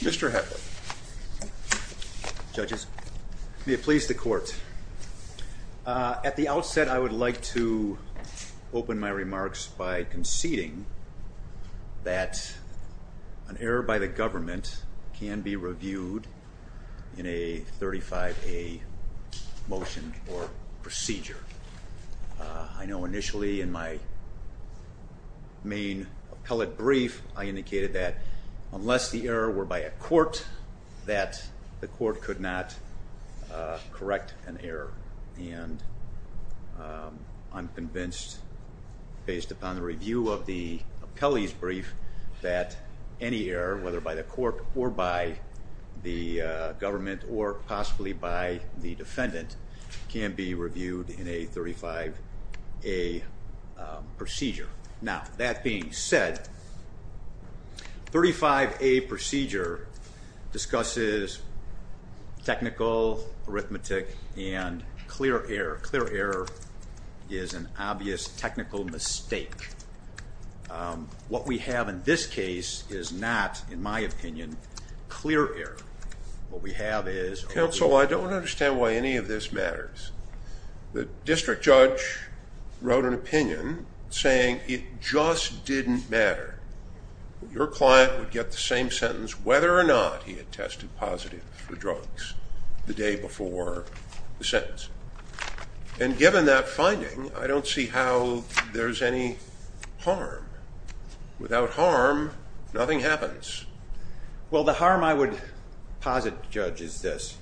Mr. Hepburn. Judges, may it please the court. At the outset, I would like to open my remarks by conceding that an error by the government can be reviewed in a 35A motion or procedure. I know initially in my main appellate brief, I indicated that unless the error were by a court, that the court could not correct an error. And I'm convinced, based upon the review of the appellee's brief, that any error, whether by the court or by the government or possibly by the defendant, can be reviewed in a 35A procedure. Now, that being said, 35A procedure discusses technical, arithmetic, and clear error. Clear error is an obvious technical mistake. What we have in this case is not, in my opinion, clear error. What we have is... And it just didn't matter. Your client would get the same sentence whether or not he had tested positive for drugs the day before the sentence. And given that finding, I don't see how there's any harm. Without harm, nothing happens. Well, the harm I would posit, Judge, is this.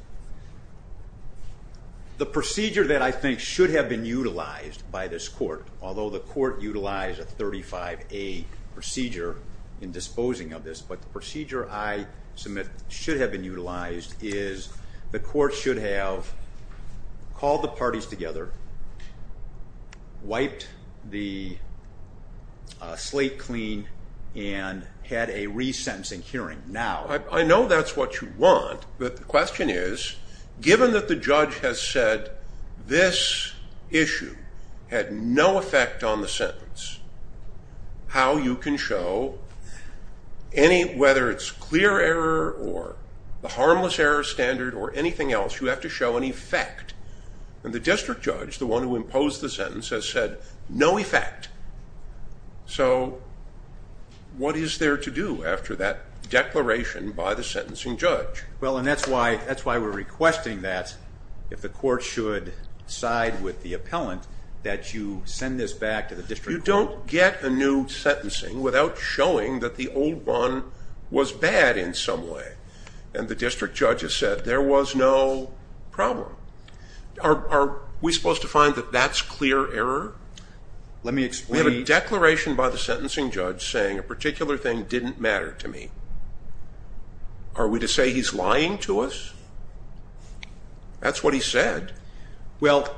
The procedure that I think should have been utilized by this court, although the court utilized a 35A procedure in disposing of this, but the procedure I submit should have been utilized is the court should have called the parties together, wiped the slate clean, and had a re-sentence. I know that's what you want, but the question is, given that the judge has said this issue had no effect on the sentence, how you can show, whether it's clear error or the harmless error standard or anything else, you have to show an effect. And the district judge, the one who imposed the sentence, has said, no effect. So, what is there to do after that declaration by the sentencing judge? Well, and that's why we're requesting that, if the court should side with the appellant, that you send this back to the district court. Are we supposed to find that that's clear error? Let me explain. We have a declaration by the sentencing judge saying a particular thing didn't matter to me. Are we to say he's lying to us? That's what he said. Well,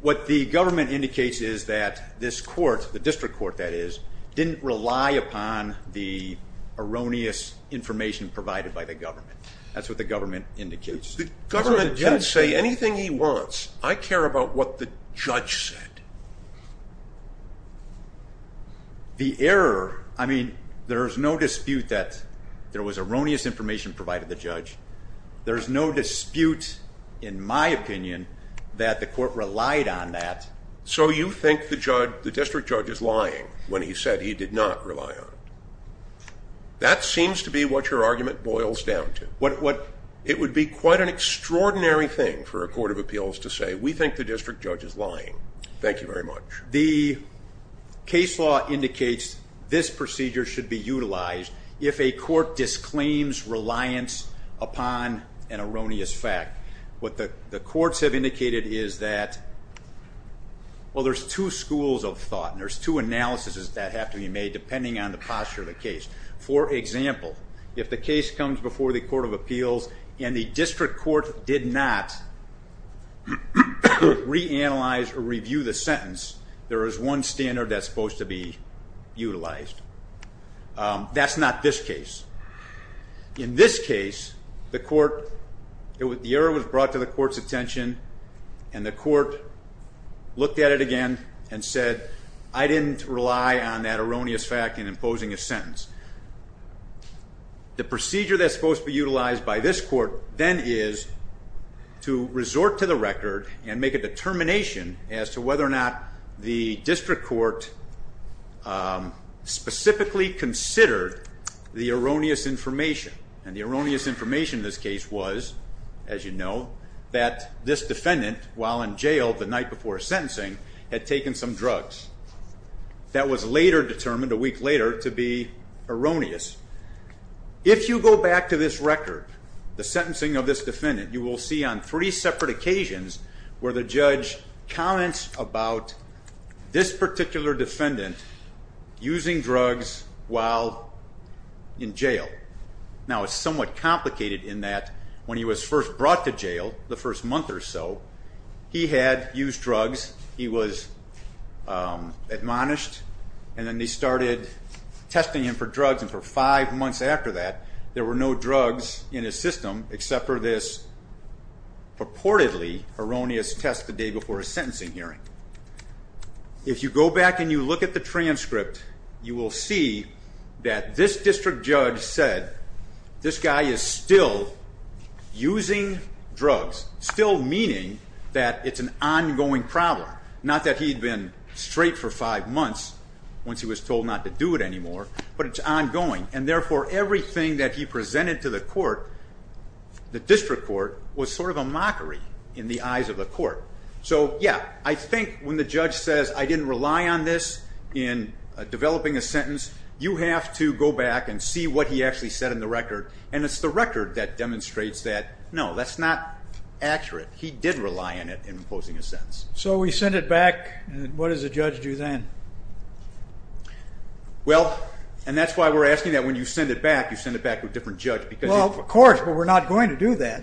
what the government indicates is that this court, the district court, that is, didn't rely upon the erroneous information provided by the government. That's what the government indicates. The government can say anything he wants. I care about what the judge said. The error, I mean, there's no dispute that there was erroneous information provided by the judge. There's no dispute, in my opinion, that the court relied on that. So, you think the district judge is lying when he said he did not rely on it. That seems to be what your argument boils down to. It would be quite an extraordinary thing for a court of appeals to say, we think the district judge is lying. Thank you very much. The case law indicates this procedure should be utilized if a court disclaims reliance upon an erroneous fact. What the courts have indicated is that, well, there's two schools of thought and there's two analyses that have to be made depending on the posture of the case. For example, if the case comes before the court of appeals and the district court did not reanalyze or review the sentence, there is one standard that's supposed to be utilized. That's not this case. In this case, the court, the error was brought to the court's attention and the court looked at it again and said, I didn't rely on that erroneous fact in imposing a sentence. The procedure that's supposed to be utilized by this court then is to resort to the record and make a determination as to whether or not the district court specifically considered the erroneous information. And the erroneous information in this case was, as you know, that this defendant, while in jail the night before sentencing, had taken some drugs. That was later determined, a week later, to be erroneous. If you go back to this record, the sentencing of this defendant, you will see on three separate occasions where the judge comments about this particular defendant using drugs while in jail. Now it's somewhat complicated in that when he was first brought to jail, the first month or so, he had used drugs, he was admonished, and then they started testing him for drugs and for five months after that, there were no drugs in his system except for this purportedly erroneous test the day before his sentencing hearing. If you go back and you look at the transcript, you will see that this district judge said, this guy is still using drugs, still meaning that it's an ongoing problem. Not that he'd been straight for five months once he was told not to do it anymore, but it's ongoing. And therefore, everything that he presented to the court, the district court, was sort of a mockery in the eyes of the court. So yeah, I think when the judge says, I didn't rely on this in developing a sentence, you have to go back and see what he actually said in the record. And it's the record that demonstrates that, no, that's not accurate. He did rely on it in imposing a sentence. So we send it back, and what does the judge do then? Well, and that's why we're asking that when you send it back, you send it back to a different judge. Well, of course, but we're not going to do that.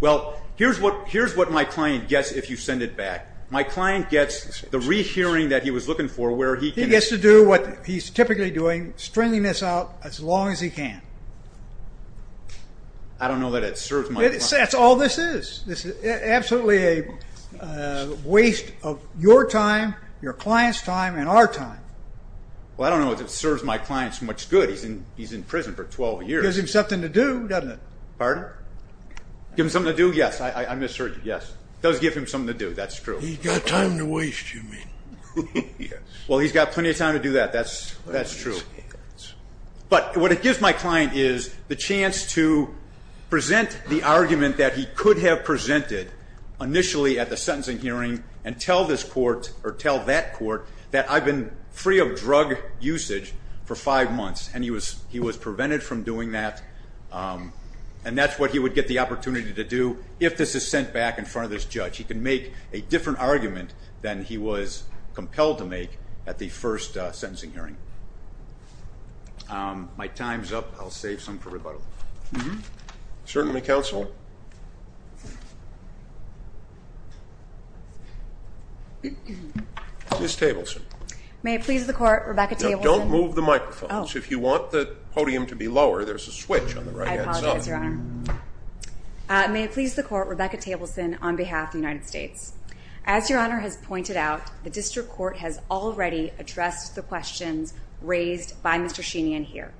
Well, here's what my client gets if you send it back. My client gets the rehearing that he was looking for where he can... This is what he's typically doing, stringing this out as long as he can. I don't know that it serves my client. That's all this is. This is absolutely a waste of your time, your client's time, and our time. Well, I don't know if it serves my client so much good. He's in prison for 12 years. Gives him something to do, doesn't it? Pardon? Gives him something to do, yes. I misheard you, yes. It does give him something to do, that's true. He's got time to waste, you mean. Well, he's got plenty of time to do that, that's true. But what it gives my client is the chance to present the argument that he could have presented initially at the sentencing hearing and tell this court or tell that court that I've been free of drug usage for five months, and he was prevented from doing that, and that's what he would get the opportunity to do if this is sent back in front of this judge. He can make a different argument than he was compelled to make at the first sentencing hearing. My time's up. I'll save some for rebuttal. Certainly, counsel. Ms. Tableson. May it please the court, Rebecca Tableson. Now, don't move the microphones. If you want the podium to be lower, there's a switch on the right-hand side. I apologize, Your Honor. May it please the court, Rebecca Tableson on behalf of the United States. As Your Honor has pointed out, the district court has already addressed the questions raised by Mr. Sheeney in here.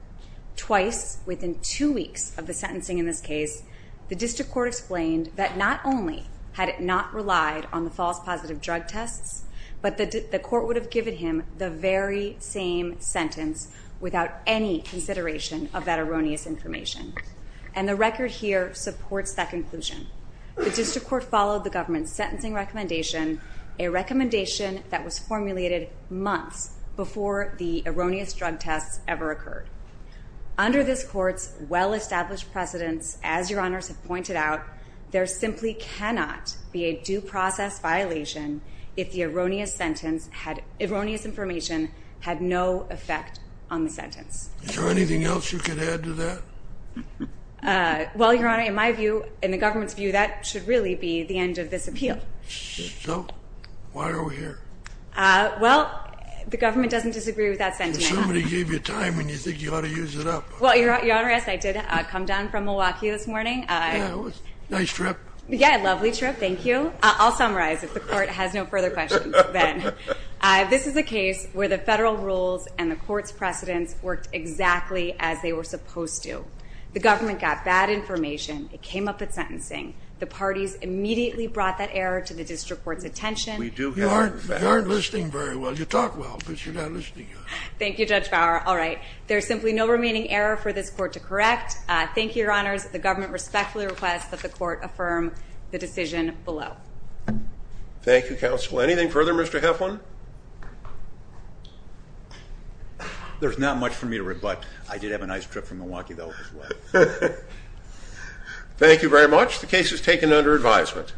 Twice within two weeks of the sentencing in this case, the district court explained that not only had it not relied on the false positive drug tests, but that the court would have given him the very same sentence without any consideration of that erroneous information. And the record here supports that conclusion. The district court followed the government's sentencing recommendation, a recommendation that was formulated months before the erroneous drug tests ever occurred. Under this court's well-established precedence, as Your Honors have pointed out, there simply cannot be a due process violation if the erroneous information had no effect on the sentence. Is there anything else you could add to that? Well, Your Honor, in my view, in the government's view, that should really be the end of this appeal. So, why are we here? Well, the government doesn't disagree with that sentiment. Somebody gave you time and you think you ought to use it up. Well, Your Honor, yes, I did come down from Milwaukee this morning. Yeah, it was a nice trip. Yeah, a lovely trip. Thank you. I'll summarize if the court has no further questions then. This is a case where the federal rules and the court's precedence worked exactly as they were supposed to. The government got bad information. It came up at sentencing. The parties immediately brought that error to the district court's attention. You aren't listening very well. You talk well, but you're not listening. Thank you, Judge Bauer. All right, there's simply no remaining error for this court to correct. Thank you, Your Honors. The government respectfully requests that the court affirm the decision below. Thank you, counsel. Anything further, Mr. Heflin? There's not much for me to rebut. I did have a nice trip from Milwaukee, though, as well. Thank you very much. The case is taken under advisement.